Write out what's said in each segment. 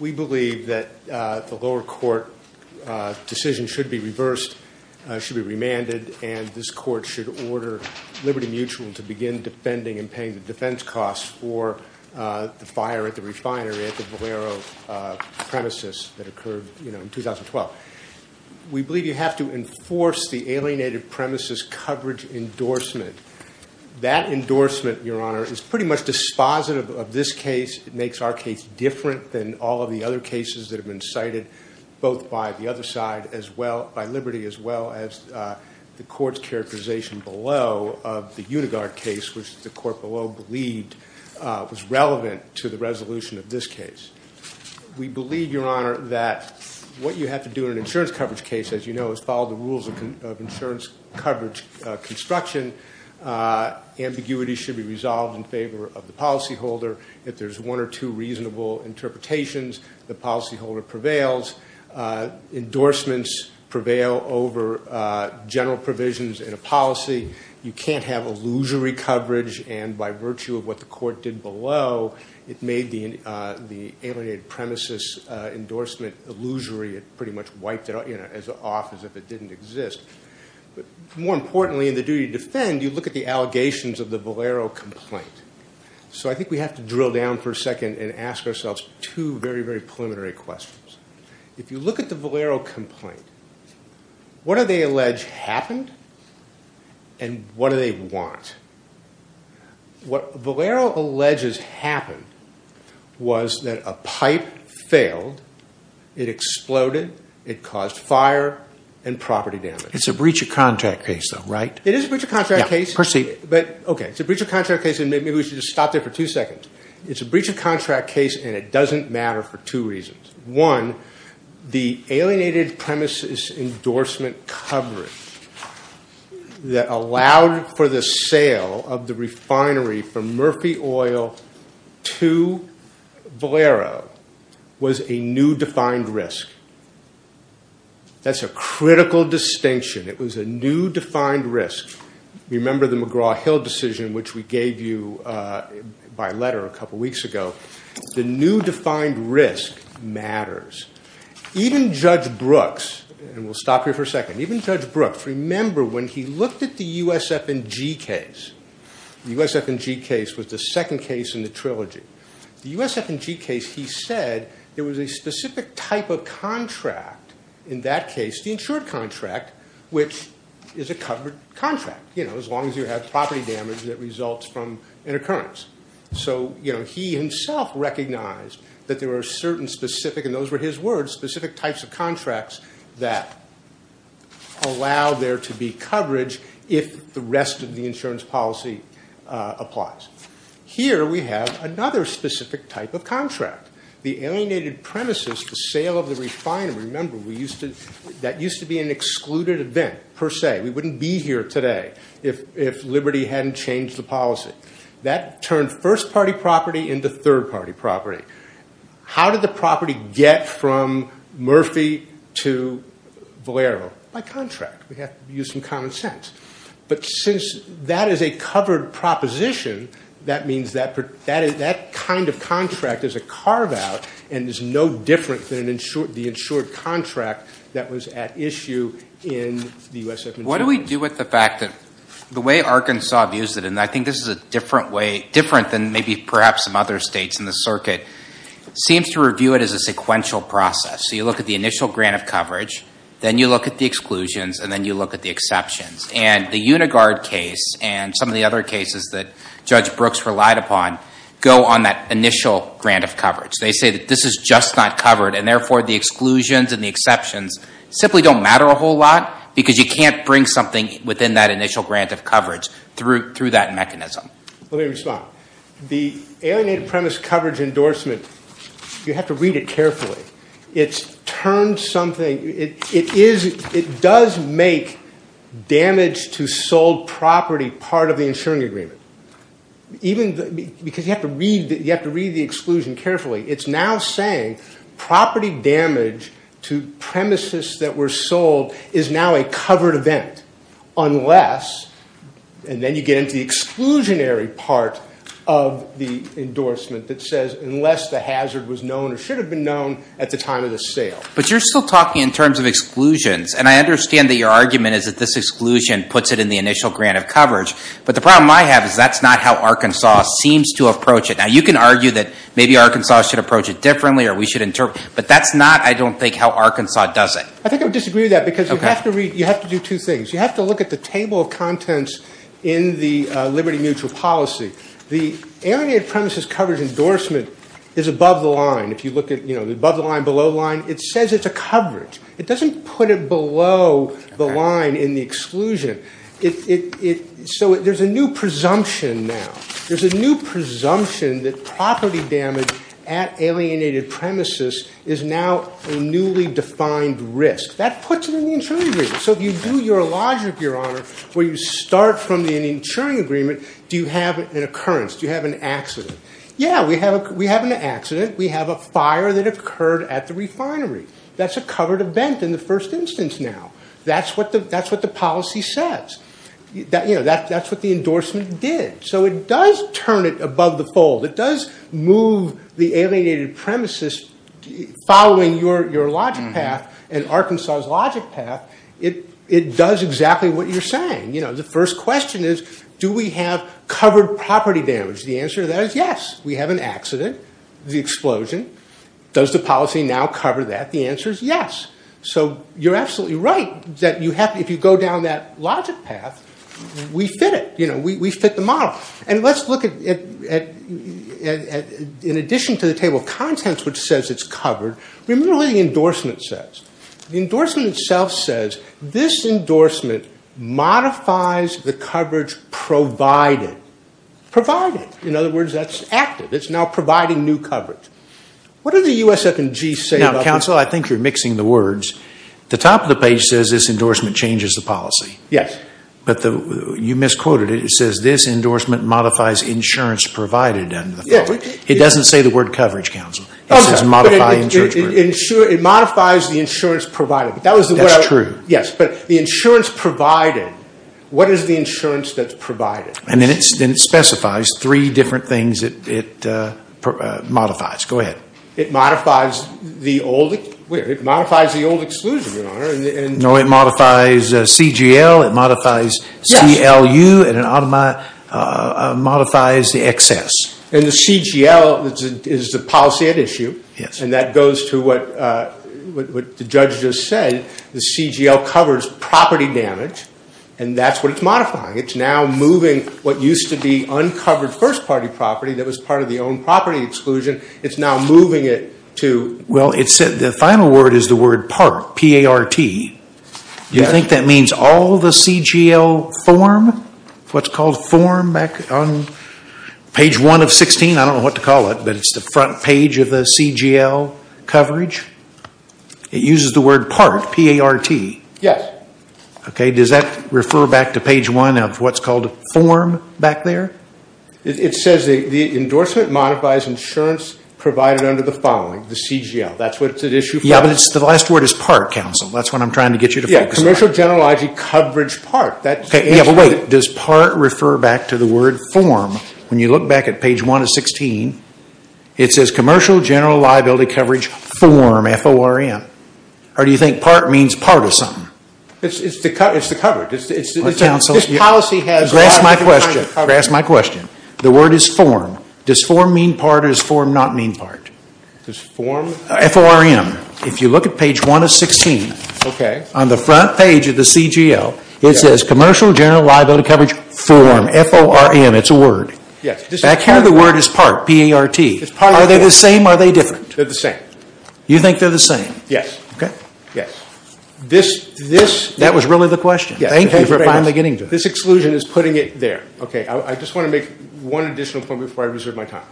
We believe that the lower court decision should be reversed, should be remanded, and this court should order Liberty Mutual to begin defending and paying the defense costs for the fire at the refinery at the Valero premises that occurred in 2012. We believe you have to enforce the alienated premises coverage endorsement. That endorsement, your honor, is pretty much dispositive of this case. It makes our case different than all of the other cases that have been cited both by the other side, by Liberty, as well as the court's characterization below of the Unigard case, which the court below believed was relevant to the resolution of this case. We believe, your honor, that what you have to do in an insurance coverage case, as you know, is follow the rules of insurance coverage construction. Ambiguity should be resolved in favor of the policyholder. If there's one or two reasonable interpretations, the policyholder prevails. Endorsements prevail over general provisions in a policy. You can't have illusory coverage, and by virtue of what the court did below, it made the alienated premises endorsement illusory. It pretty much wiped it off as if it didn't exist. But more importantly, in the duty to defend, you look at the allegations of the Valero complaint. So I think we have to drill down for a second and ask ourselves two very, very preliminary questions. If you look at the Valero complaint, what do they allege happened and what do they want? What Valero alleges happened was that a pipe failed, it exploded, it caused fire and property damage. It's a breach of contract case though, right? It is a breach of contract case. Yeah, proceed. But, okay, it's a breach of contract case, and maybe we should just stop there for two seconds. It's a breach of contract case, and it doesn't matter for two reasons. One, the alienated premises endorsement coverage that allowed for the sale of the refinery from Murphy Oil to Valero was a new defined risk. That's a critical distinction. It was a new defined risk. Remember the McGraw-Hill decision, which we gave you by letter a couple weeks ago. The new defined risk matters. Even Judge Brooks, and we'll stop here for a second, even Judge Brooks, remember when he looked at the USF&G case, the USF&G case was the second case in the trilogy. The USF&G case, he said, there was a specific type of contract, in that case the insured contract, which is a covered contract, you know, as long as you have property damage that results from an occurrence. So, you know, he himself recognized that there were certain specific, and those were his words, specific types of contracts that allow there to be coverage if the rest of the insurance policy applies. Here we have another specific type of contract. The alienated premises, the sale of the refinery, remember, that used to be an excluded event per se. We wouldn't be here today if Liberty hadn't changed the policy. That turned first-party property into third-party property. How did the property get from Murphy to Valero? By contract. We have to use some common sense. But since that is a covered proposition, that means that kind of contract is a carve-out and is no different than the insured contract that was at issue in the USF&G case. What do we do with the fact that the way Arkansas views it, and I think this is a different way, different than maybe perhaps some other states in the circuit, seems to review it as a sequential process. So you look at the initial grant of coverage, then you look at the exclusions, and then you look at the exceptions. And the Unigard case and some of the other cases that Judge Brooks relied upon go on that initial grant of coverage. They say that this is just not covered, and therefore the exclusions and the exceptions simply don't matter a whole lot because you can't bring something within that initial grant of coverage through that mechanism. Let me respond. The alienated premise coverage endorsement, you have to read it carefully. It's turned something, it does make damage to sold property part of the insuring agreement. Because you have to read the exclusion carefully. It's now saying property damage to premises that were sold is now a covered event unless, and then you get into the exclusionary part of the endorsement that says unless the hazard was known or should have been known at the time of the sale. But you're still talking in terms of exclusions. And I understand that your argument is that this exclusion puts it in the initial grant of coverage. But the problem I have is that's not how Arkansas seems to approach it. Now you can argue that maybe Arkansas should approach it differently or we should interpret, but that's not, I don't think, how Arkansas does it. I think I would disagree with that because you have to read, you have to do two things. You have to look at the table of contents in the liberty mutual policy. The alienated premises coverage endorsement is above the line. If you look at, you know, above the line, below the line, it says it's a coverage. It doesn't put it below the line in the exclusion. It, so there's a new presumption now. There's a new presumption that property damage at alienated premises is now a newly defined risk. That puts it in the insuring agreement. So if you do your logic, your honor, where you start from the insuring agreement, do you have an occurrence? Do you have an accident? Yeah, we have an accident. We have a fire that occurred at the refinery. That's a covered event in the first instance now. That's what the policy says. You know, that's what the endorsement did. So it does turn it above the fold. It does move the alienated premises following your logic path and Arkansas's logic path, it does exactly what you're saying. You know, the first question is, do we have covered property damage? The answer to that is yes. We have an accident, the explosion. Does the policy now cover that? The answer is yes. So you're absolutely right that you have, if you go down that logic path, we fit it. You know, we fit the model. And let's look at, in addition to the table of contents which says it's covered, remember what the endorsement says. The endorsement itself says this endorsement modifies the coverage provided. Provided, in other words, that's active. It's now providing new coverage. What do the USF&G say about that? Now, counsel, I think you're mixing the words. The top of the page says this endorsement changes the policy. Yes. But you misquoted it. It says this endorsement modifies insurance provided. It doesn't say the word coverage, counsel. It says modify insurance. It modifies the insurance provided. That's true. Yes, but the insurance provided, what is the insurance that's provided? And then it specifies three different things it modifies. Go ahead. It modifies the old, it modifies the old exclusion, your honor. No, it modifies CGL. It modifies CLU and it modifies the excess. And the CGL is the policy at issue. Yes. And that goes to what the judge just said. The CGL covers property damage and that's what it's modifying. It's now moving what used to be uncovered first party property that was part of the owned property exclusion, it's now moving it to. Well, the final word is the word PART, P-A-R-T. You think that means all the CGL form, what's called form back on page one of 16? I don't know what to call it, but it's the front page of the CGL coverage. It uses the word PART, P-A-R-T. Yes. Okay. Does that refer back to page one of what's called form back there? It says the endorsement modifies insurance provided under the following, the CGL. That's what it's at issue for. Yeah, but it's the last word is PART, counsel. That's what I'm trying to get you to focus on. Yeah, commercial general liability coverage PART. That's the answer. Yeah, but wait. Does PART refer back to the word form? When you look back at page one of 16, it says commercial general liability coverage form, F-O-R-M. Or do you think PART means part of something? It's the covered. It's the counsel's. This policy has. That's my question. That's my question. The word is form. Does form mean part or does form not mean part? Does form. F-O-R-M. If you look at page one of 16, on the front page of the CGL, it says commercial general liability coverage form, F-O-R-M. It's a word. Yes. Back here, the word is PART, P-A-R-T. It's part of the word. Are they the same? Are they different? They're the same. You think they're the same? Yes. Okay. Yes. This. This. That was really the question. Thank you for finally getting to it. This exclusion is putting it there. Okay. I just want to make one additional point before I reserve my time.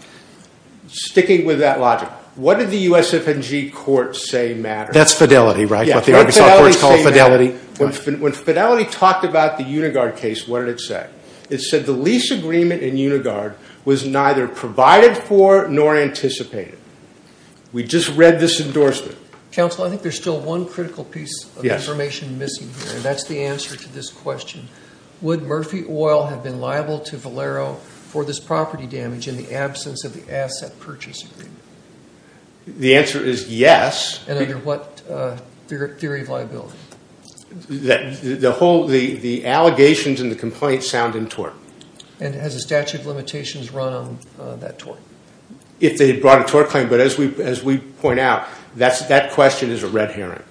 Sticking with that logic, what did the USF&G court say matters? That's Fidelity, right? What the Arkansas courts call Fidelity. When Fidelity talked about the Unigard case, what did it say? It said the lease agreement in Unigard was neither provided for nor anticipated. We just read this endorsement. Counsel, I think there's still one critical piece of information missing here. That's the answer to this question. Would Murphy Oil have been liable to Valero for this property damage in the absence of the asset purchase agreement? The answer is yes. And under what theory of liability? The allegations and the complaints sound in tort. And has the statute of limitations run on that tort? If they had brought a tort claim, but as we point out, that question is a red herring.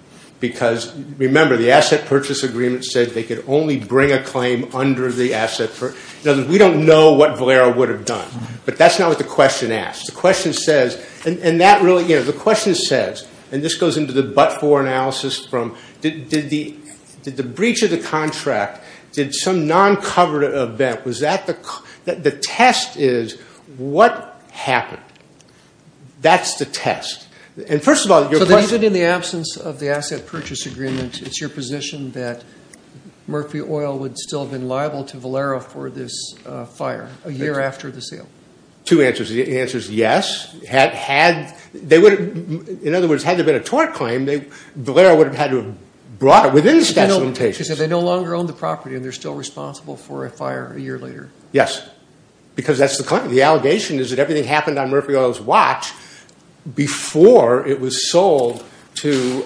Because remember, the asset purchase agreement said they could only bring a claim under the asset. In other words, we don't know what Valero would have done. But that's not what the question asks. The question says, and that really, you know, the question says, and this goes into the but-for analysis from, did the breach of the contract, did some non-covered event, was that the, the test is, what happened? That's the test. And first of all, your question. So even in the absence of the asset purchase agreement, it's your position that Murphy Oil would still have been liable to Valero for this fire a year after the sale? Two answers. The answer is yes. Had, had, they would have, in other words, had there been a tort claim, they, Valero would have had to have brought it within the statute of limitations. So they no longer own the property and they're still responsible for a fire a year later? Yes. Because that's the claim. The allegation is that everything happened on Murphy Oil's watch before it was sold to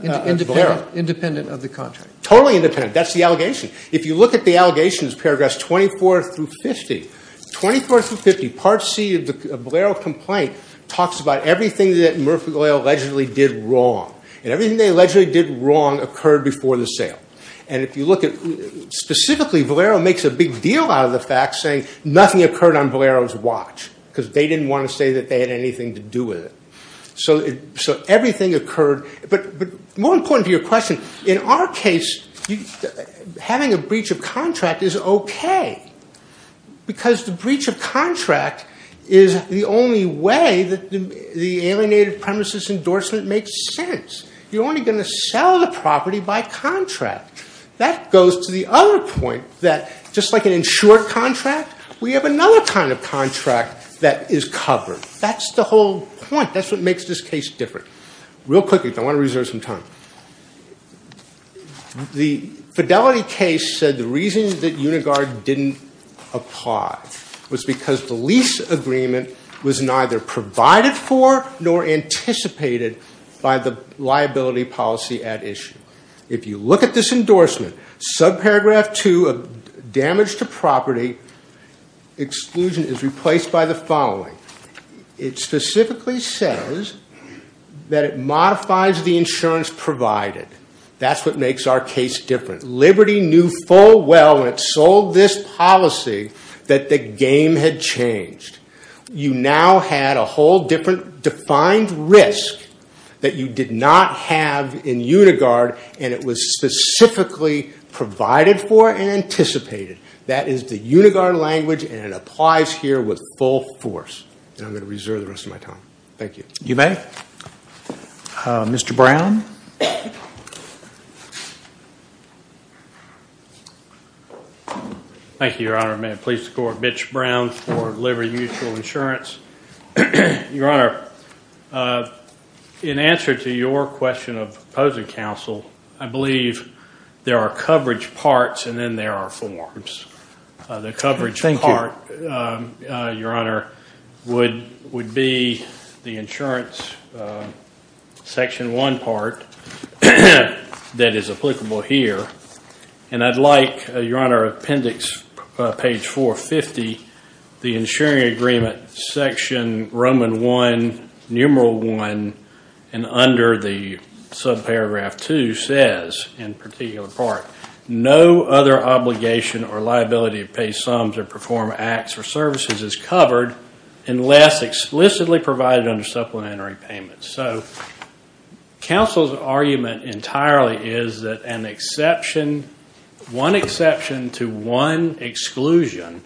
Valero. Independent of the contract. Totally independent. That's the allegation. If you look at the allegations, paragraphs 24 through 50. 24 through 50, part C of the Valero complaint talks about everything that Murphy Oil allegedly did wrong. And everything they allegedly did wrong occurred before the sale. And if you look at, specifically, Valero makes a big deal out of the fact, saying nothing occurred on Valero's watch. Because they didn't want to say that they had anything to do with it. So, so everything occurred. But, but more important to your question, in our case, having a breach of contract is okay. Because the breach of contract is the only way that the alienated premises endorsement makes sense. You're only going to sell the property by contract. That goes to the other point that, just like an insured contract, we have another kind of contract that is covered. That's the whole point. That's what makes this case different. Real quickly, I want to reserve some time. The Fidelity case said the reason that Unigard didn't apply was because the lease agreement was neither provided for nor anticipated by the liability policy at issue. If you look at this endorsement, subparagraph 2 of damage to property, exclusion is replaced by the following. It specifically says that it modifies the insurance provided. That's what makes our case different. Liberty knew full well, when it sold this policy, that the game had changed. You now had a whole different defined risk that you did not have in Unigard, and it was specifically provided for and anticipated. That is the Unigard language, and it applies here with full force. I'm going to reserve the rest of my time. Thank you. You may. Mr. Brown? Thank you, Your Honor. May it please the Court. Mitch Brown for Liberty Mutual Insurance. Your Honor, in answer to your question of opposing counsel, I believe there are coverage parts and then there are forms. The coverage part, Your Honor, would be the insurance section 1 part that is applicable here. And I'd like, Your Honor, appendix page 450, the insuring agreement section Roman 1, numeral 1, and under the subparagraph 2 says, in particular part, no other obligation or liability to pay sums or perform acts or services is covered unless explicitly provided under supplementary payments. So counsel's argument entirely is that an exception, one exception to one exclusion,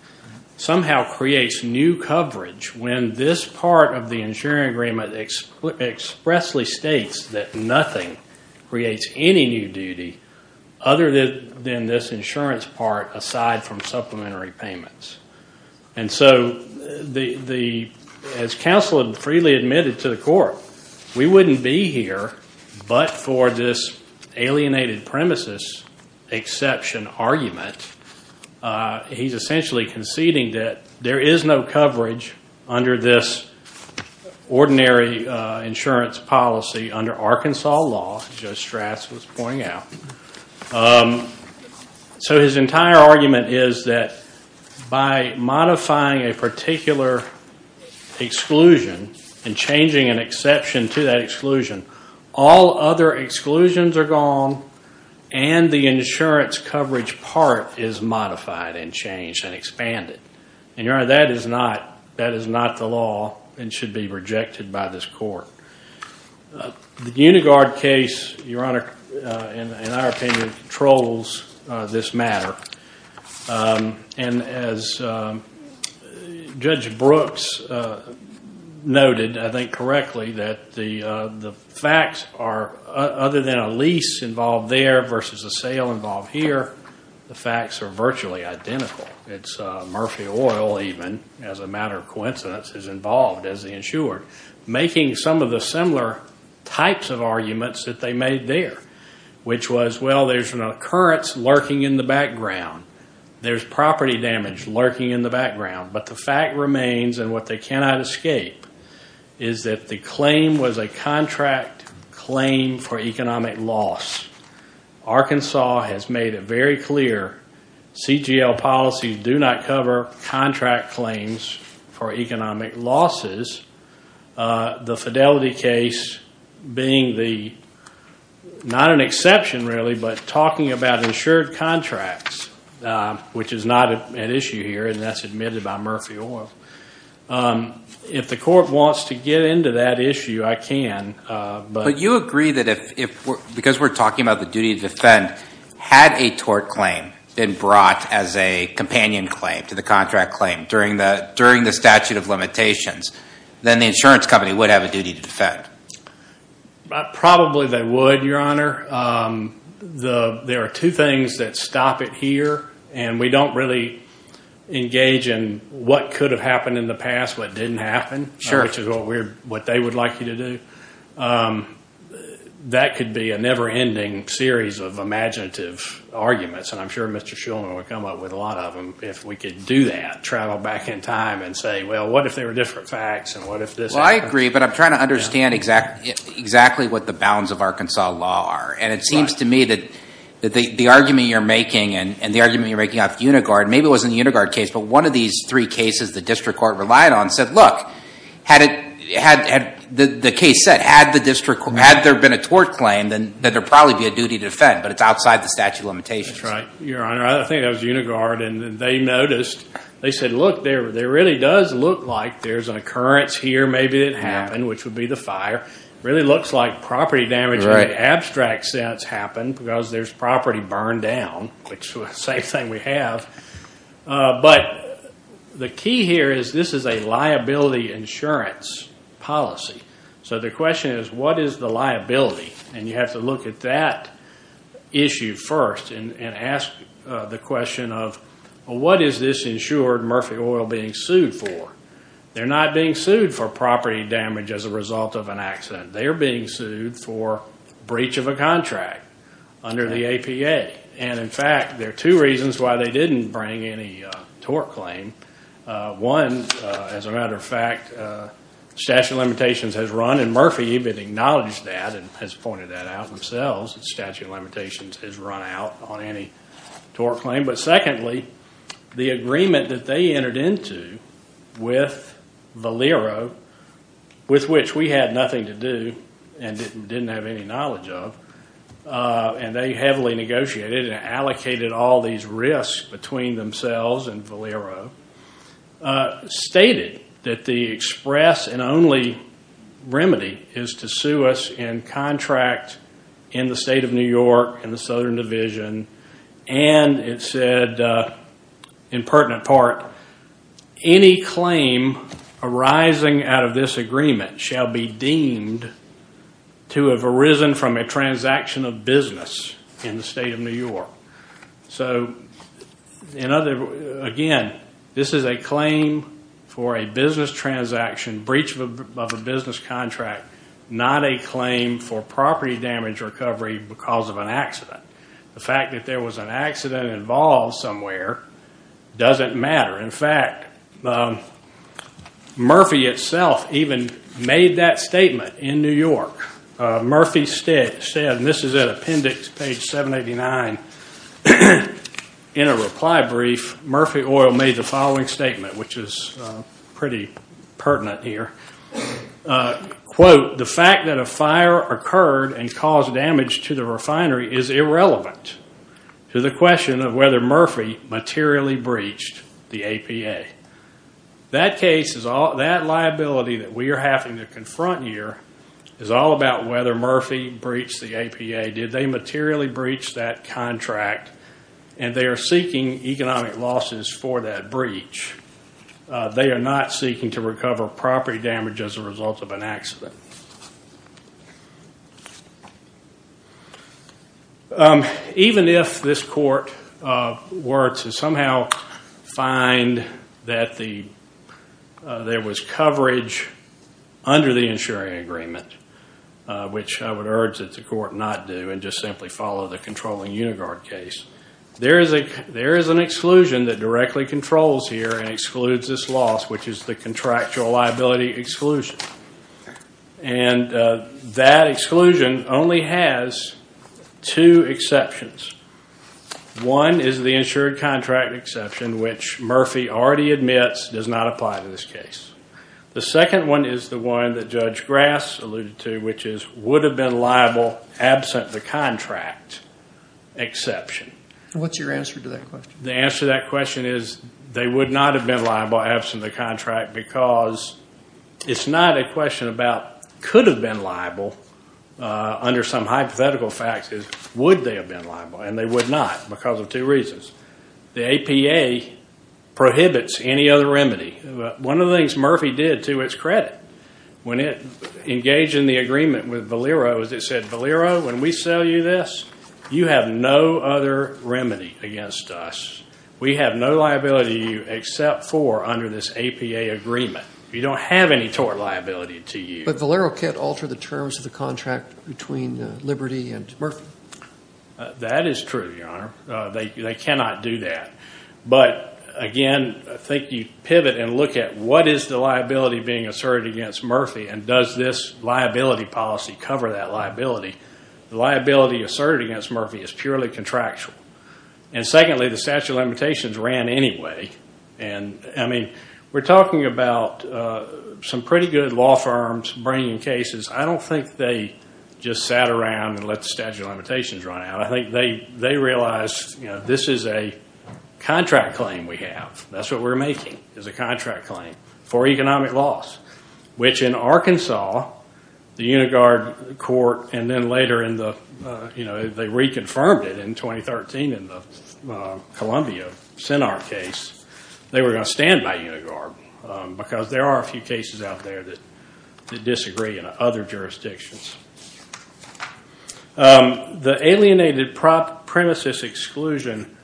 somehow creates new coverage. When this part of the insuring agreement expressly states that nothing creates any new duty other than this insurance part aside from supplementary payments. And so the, as counsel had freely admitted to the Court, we wouldn't be here but for this alienated premises exception argument. He's essentially conceding that there is no coverage under this ordinary insurance policy under Arkansas law, as Joe Strass was pointing out. So his entire argument is that by modifying a particular exclusion and changing an exception to that exclusion, all other exclusions are gone and the insurance coverage part is modified and changed and expanded. And Your Honor, that is not, that is not the law and should be rejected by this Court. The Unigard case, Your Honor, in our opinion, controls this matter. And as Judge Brooks noted, I think correctly, that the facts are, other than a lease involved there versus a sale involved here, the facts are virtually identical. It's Murphy Oil even, as a matter of coincidence, is involved as the insurer, making some of the similar types of arguments that they made there, which was, well, there's an occurrence lurking in the background. There's property damage lurking in the background. But the fact remains, and what they cannot escape, is that the claim was a contract claim for economic loss. Arkansas has made it very clear, CGL policies do not cover contract claims for economic losses. The Fidelity case being the, not an exception really, but talking about insured contracts, which is not an issue here, and that's admitted by Murphy Oil. If the Court wants to get into that issue, I can. But you agree that if, because we're talking about the duty to defend, had a tort claim been brought as a companion claim to the contract claim during the statute of limitations, then the insurance company would have a duty to defend. Probably they would, Your Honor. There are two things that stop it here, and we don't really engage in what could have happened in the past, what didn't happen, which is what they would like you to do. That could be a never-ending series of imaginative arguments, and I'm sure Mr. Shulman would come up with a lot of them, if we could do that, to travel back in time and say, well, what if they were different facts, and what if this happened? Well, I agree, but I'm trying to understand exactly what the bounds of Arkansas law are. And it seems to me that the argument you're making, and the argument you're making of Unigard, maybe it wasn't the Unigard case, but one of these three cases the district court relied on said, look, had it, the case said, had the district, had there been a tort claim, then there'd probably be a duty to defend, but it's outside the statute of limitations. That's right, Your Honor. I think that was Unigard, and they noticed, they said, look, there really does look like there's an occurrence here, maybe it happened, which would be the fire. Really looks like property damage in an abstract sense happened, because there's property burned down, which is the same thing we have. But the key here is this is a liability insurance policy. So the question is, what is the liability? And you have to look at that issue first, and ask the question of, what is this insured Murphy Oil being sued for? They're not being sued for property damage as a result of an accident. They're being sued for breach of a contract under the APA. And in fact, there are two reasons why they didn't bring any tort claim. One, as a matter of fact, statute of limitations has run, and Murphy even acknowledged that, and has pointed that out themselves, that statute of limitations has run out on any tort claim. But secondly, the agreement that they entered into with Valero, with which we had nothing to do, and didn't have any knowledge of, and they heavily negotiated and allocated all these risks between themselves and Valero. Stated that the express and only remedy is to sue us in contract in the state of New York, in the Southern Division. And it said, in pertinent part, any claim arising out of this agreement shall be deemed to have arisen from a transaction of business in the state of New York. So, again, this is a claim for a business transaction, breach of a business contract, not a claim for property damage recovery because of an accident. The fact that there was an accident involved somewhere doesn't matter. In fact, Murphy itself even made that statement in New York. Murphy said, and this is at appendix page 789, in a reply brief, Murphy Oil made the following statement, which is pretty pertinent here. Quote, the fact that a fire occurred and caused damage to the refinery is irrelevant to the question of whether Murphy materially breached the APA. That case is all, that liability that we are having to confront here is all about whether Murphy breached the APA. Did they materially breach that contract? And they are seeking economic losses for that breach. They are not seeking to recover property damage as a result of an accident. Even if this court were to somehow find that there was coverage under the insuring agreement, which I would urge that the court not do and just simply follow the controlling Unigard case, there is an exclusion that directly controls here and excludes this loss, which is the contractual liability exclusion. And that exclusion only has two exceptions. One is the insured contract exception, which Murphy already admits does not apply to this case. The second one is the one that Judge Grass alluded to, which is would have been liable absent the contract exception. What's your answer to that question? The answer to that question is they would not have been liable absent the contract because it's not a question about could have been liable under some hypothetical facts. Would they have been liable? And they would not because of two reasons. The APA prohibits any other remedy. One of the things Murphy did to its credit when it engaged in the agreement with Valero is it said, Valero, when we sell you this, you have no other remedy against us. We have no liability to you except for under this APA agreement. We don't have any tort liability to you. But Valero can't alter the terms of the contract between Liberty and Murphy. That is true, Your Honor. They cannot do that. But again, I think you pivot and look at what is the liability being asserted against Murphy and does this liability policy cover that liability. The liability asserted against Murphy is purely contractual. And secondly, the statute of limitations ran anyway. And, I mean, we're talking about some pretty good law firms bringing cases. I don't think they just sat around and let the statute of limitations run out. I think they realized, you know, this is a contract claim we have. That's what we're making is a contract claim for economic loss, which in Arkansas, the Unigard court, and then later in the, you know, they reconfirmed it in 2013 in the Columbia Sinar case. They were going to stand by Unigard because there are a few cases out there that disagree in other jurisdictions. The alienated premises exclusion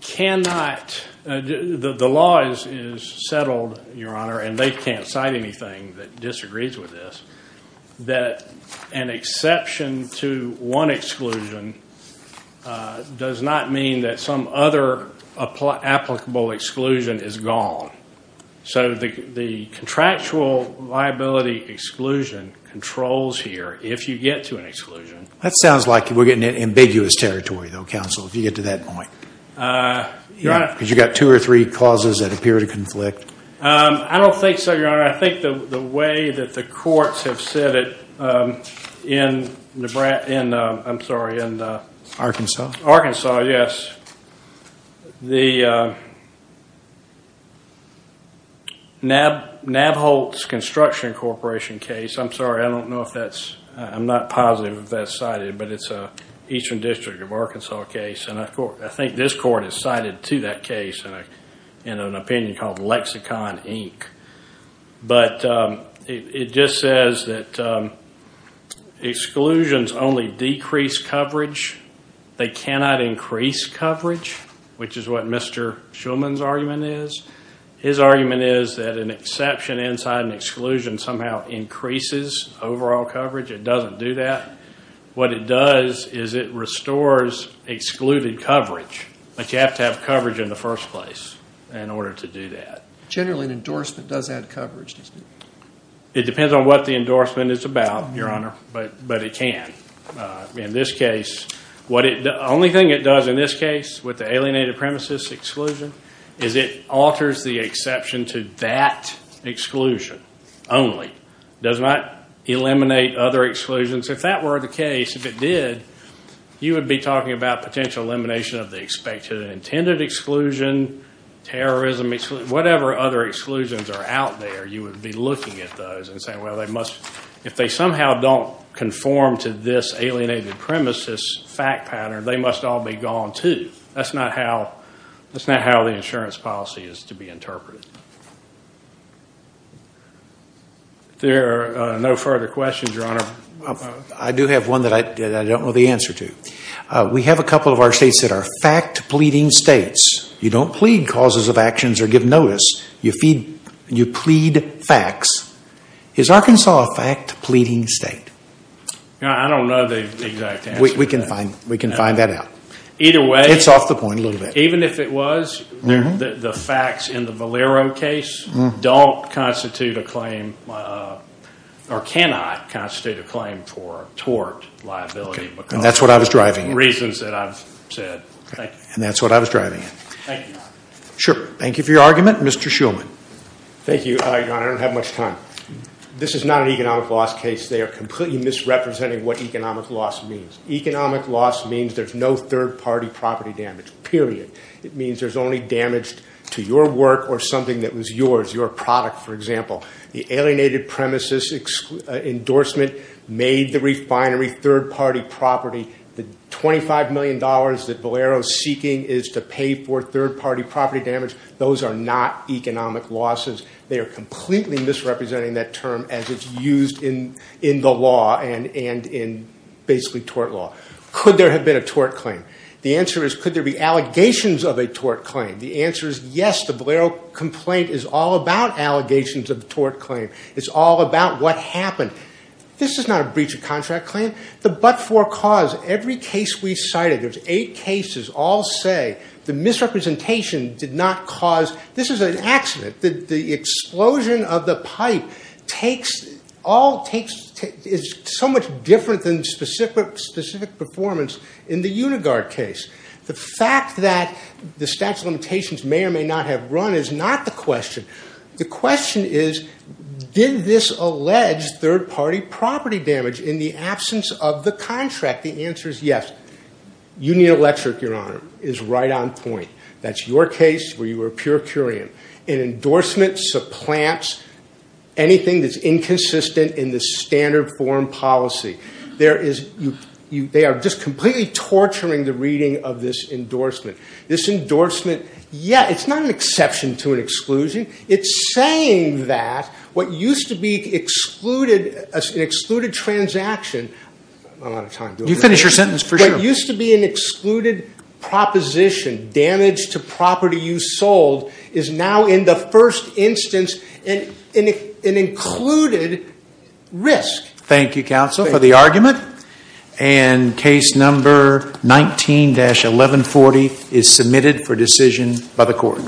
cannot, the law is settled, Your Honor, and they can't cite anything that disagrees with this, that an exception to one exclusion does not mean that some other applicable exclusion is gone. So the contractual liability exclusion controls here if you get to an exclusion. That sounds like we're getting into ambiguous territory, though, counsel, if you get to that point. Because you've got two or three clauses that appear to conflict. I don't think so, Your Honor. I think the way that the courts have said it in the, I'm sorry, in the- Arkansas? Arkansas, yes. The Navholz Construction Corporation case, I'm sorry, I don't know if that's, I'm not positive if that's cited, but it's an Eastern District of Arkansas case. I think this court has cited two that case in an opinion called Lexicon Inc. But it just says that exclusions only decrease coverage. They cannot increase coverage, which is what Mr. Schulman's argument is. His argument is that an exception inside an exclusion somehow increases overall coverage. It doesn't do that. What it does is it restores excluded coverage, but you have to have coverage in the first place in order to do that. Generally, an endorsement does add coverage, doesn't it? It depends on what the endorsement is about, Your Honor, but it can. In this case, the only thing it does in this case with the alienated premises exclusion is it alters the exception to that exclusion only. Does not eliminate other exclusions. If that were the case, if it did, you would be talking about potential elimination of the expected and intended exclusion, terrorism, whatever other exclusions are out there, you would be looking at those and saying, well, they must, if they somehow don't conform to this alienated premises fact pattern, they must all be gone too. That's not how the insurance policy is to be interpreted. There are no further questions, Your Honor. I do have one that I don't know the answer to. We have a couple of our states that are fact pleading states. You don't plead causes of actions or give notice, you plead facts. Is Arkansas a fact pleading state? I don't know the exact answer to that. We can find that out. Don't constitute a claim or cannot constitute a claim for tort liability because of reasons that I've said. Thank you. Thank you, Your Honor. Thank you for your argument. Mr. Shulman. Thank you, Your Honor. I don't have much time. This is not an economic loss case. They are completely misrepresenting what economic loss means. Economic loss means there's no third party property damage, period. It means there's only damage to your work or something that was yours, your product, for example. The alienated premises endorsement made the refinery third party property. The $25 million that Valero is seeking is to pay for third party property damage. Those are not economic losses. They are completely misrepresenting that term as it's used in the law and in basically tort law. Could there have been a tort claim? The answer is could there be allegations of a tort claim? The answer is yes. The Valero complaint is all about allegations of a tort claim. It's all about what happened. This is not a breach of contract claim. The but-for cause, every case we cited, there's eight cases, all say the misrepresentation did not cause, this is an accident. The explosion of the pipe is so much different than specific performance in the Unigard case. The fact that the statute of limitations may or may not have run is not the question. The question is, did this allege third party property damage in the absence of the contract? The answer is yes. Union Electric, Your Honor, is right on point. That's your case where you were pure curian. An endorsement supplants anything that's inconsistent in the standard foreign policy. They are just completely torturing the reading of this endorsement. This endorsement, yeah, it's not an exception to an exclusion. It's saying that what used to be an excluded transaction, I'm out of time. You finish your sentence for sure. What used to be an excluded proposition, damage to property you sold, is now in the first instance, an included risk. Thank you, counsel, for the argument. And case number 19-1140 is submitted for decision by the court.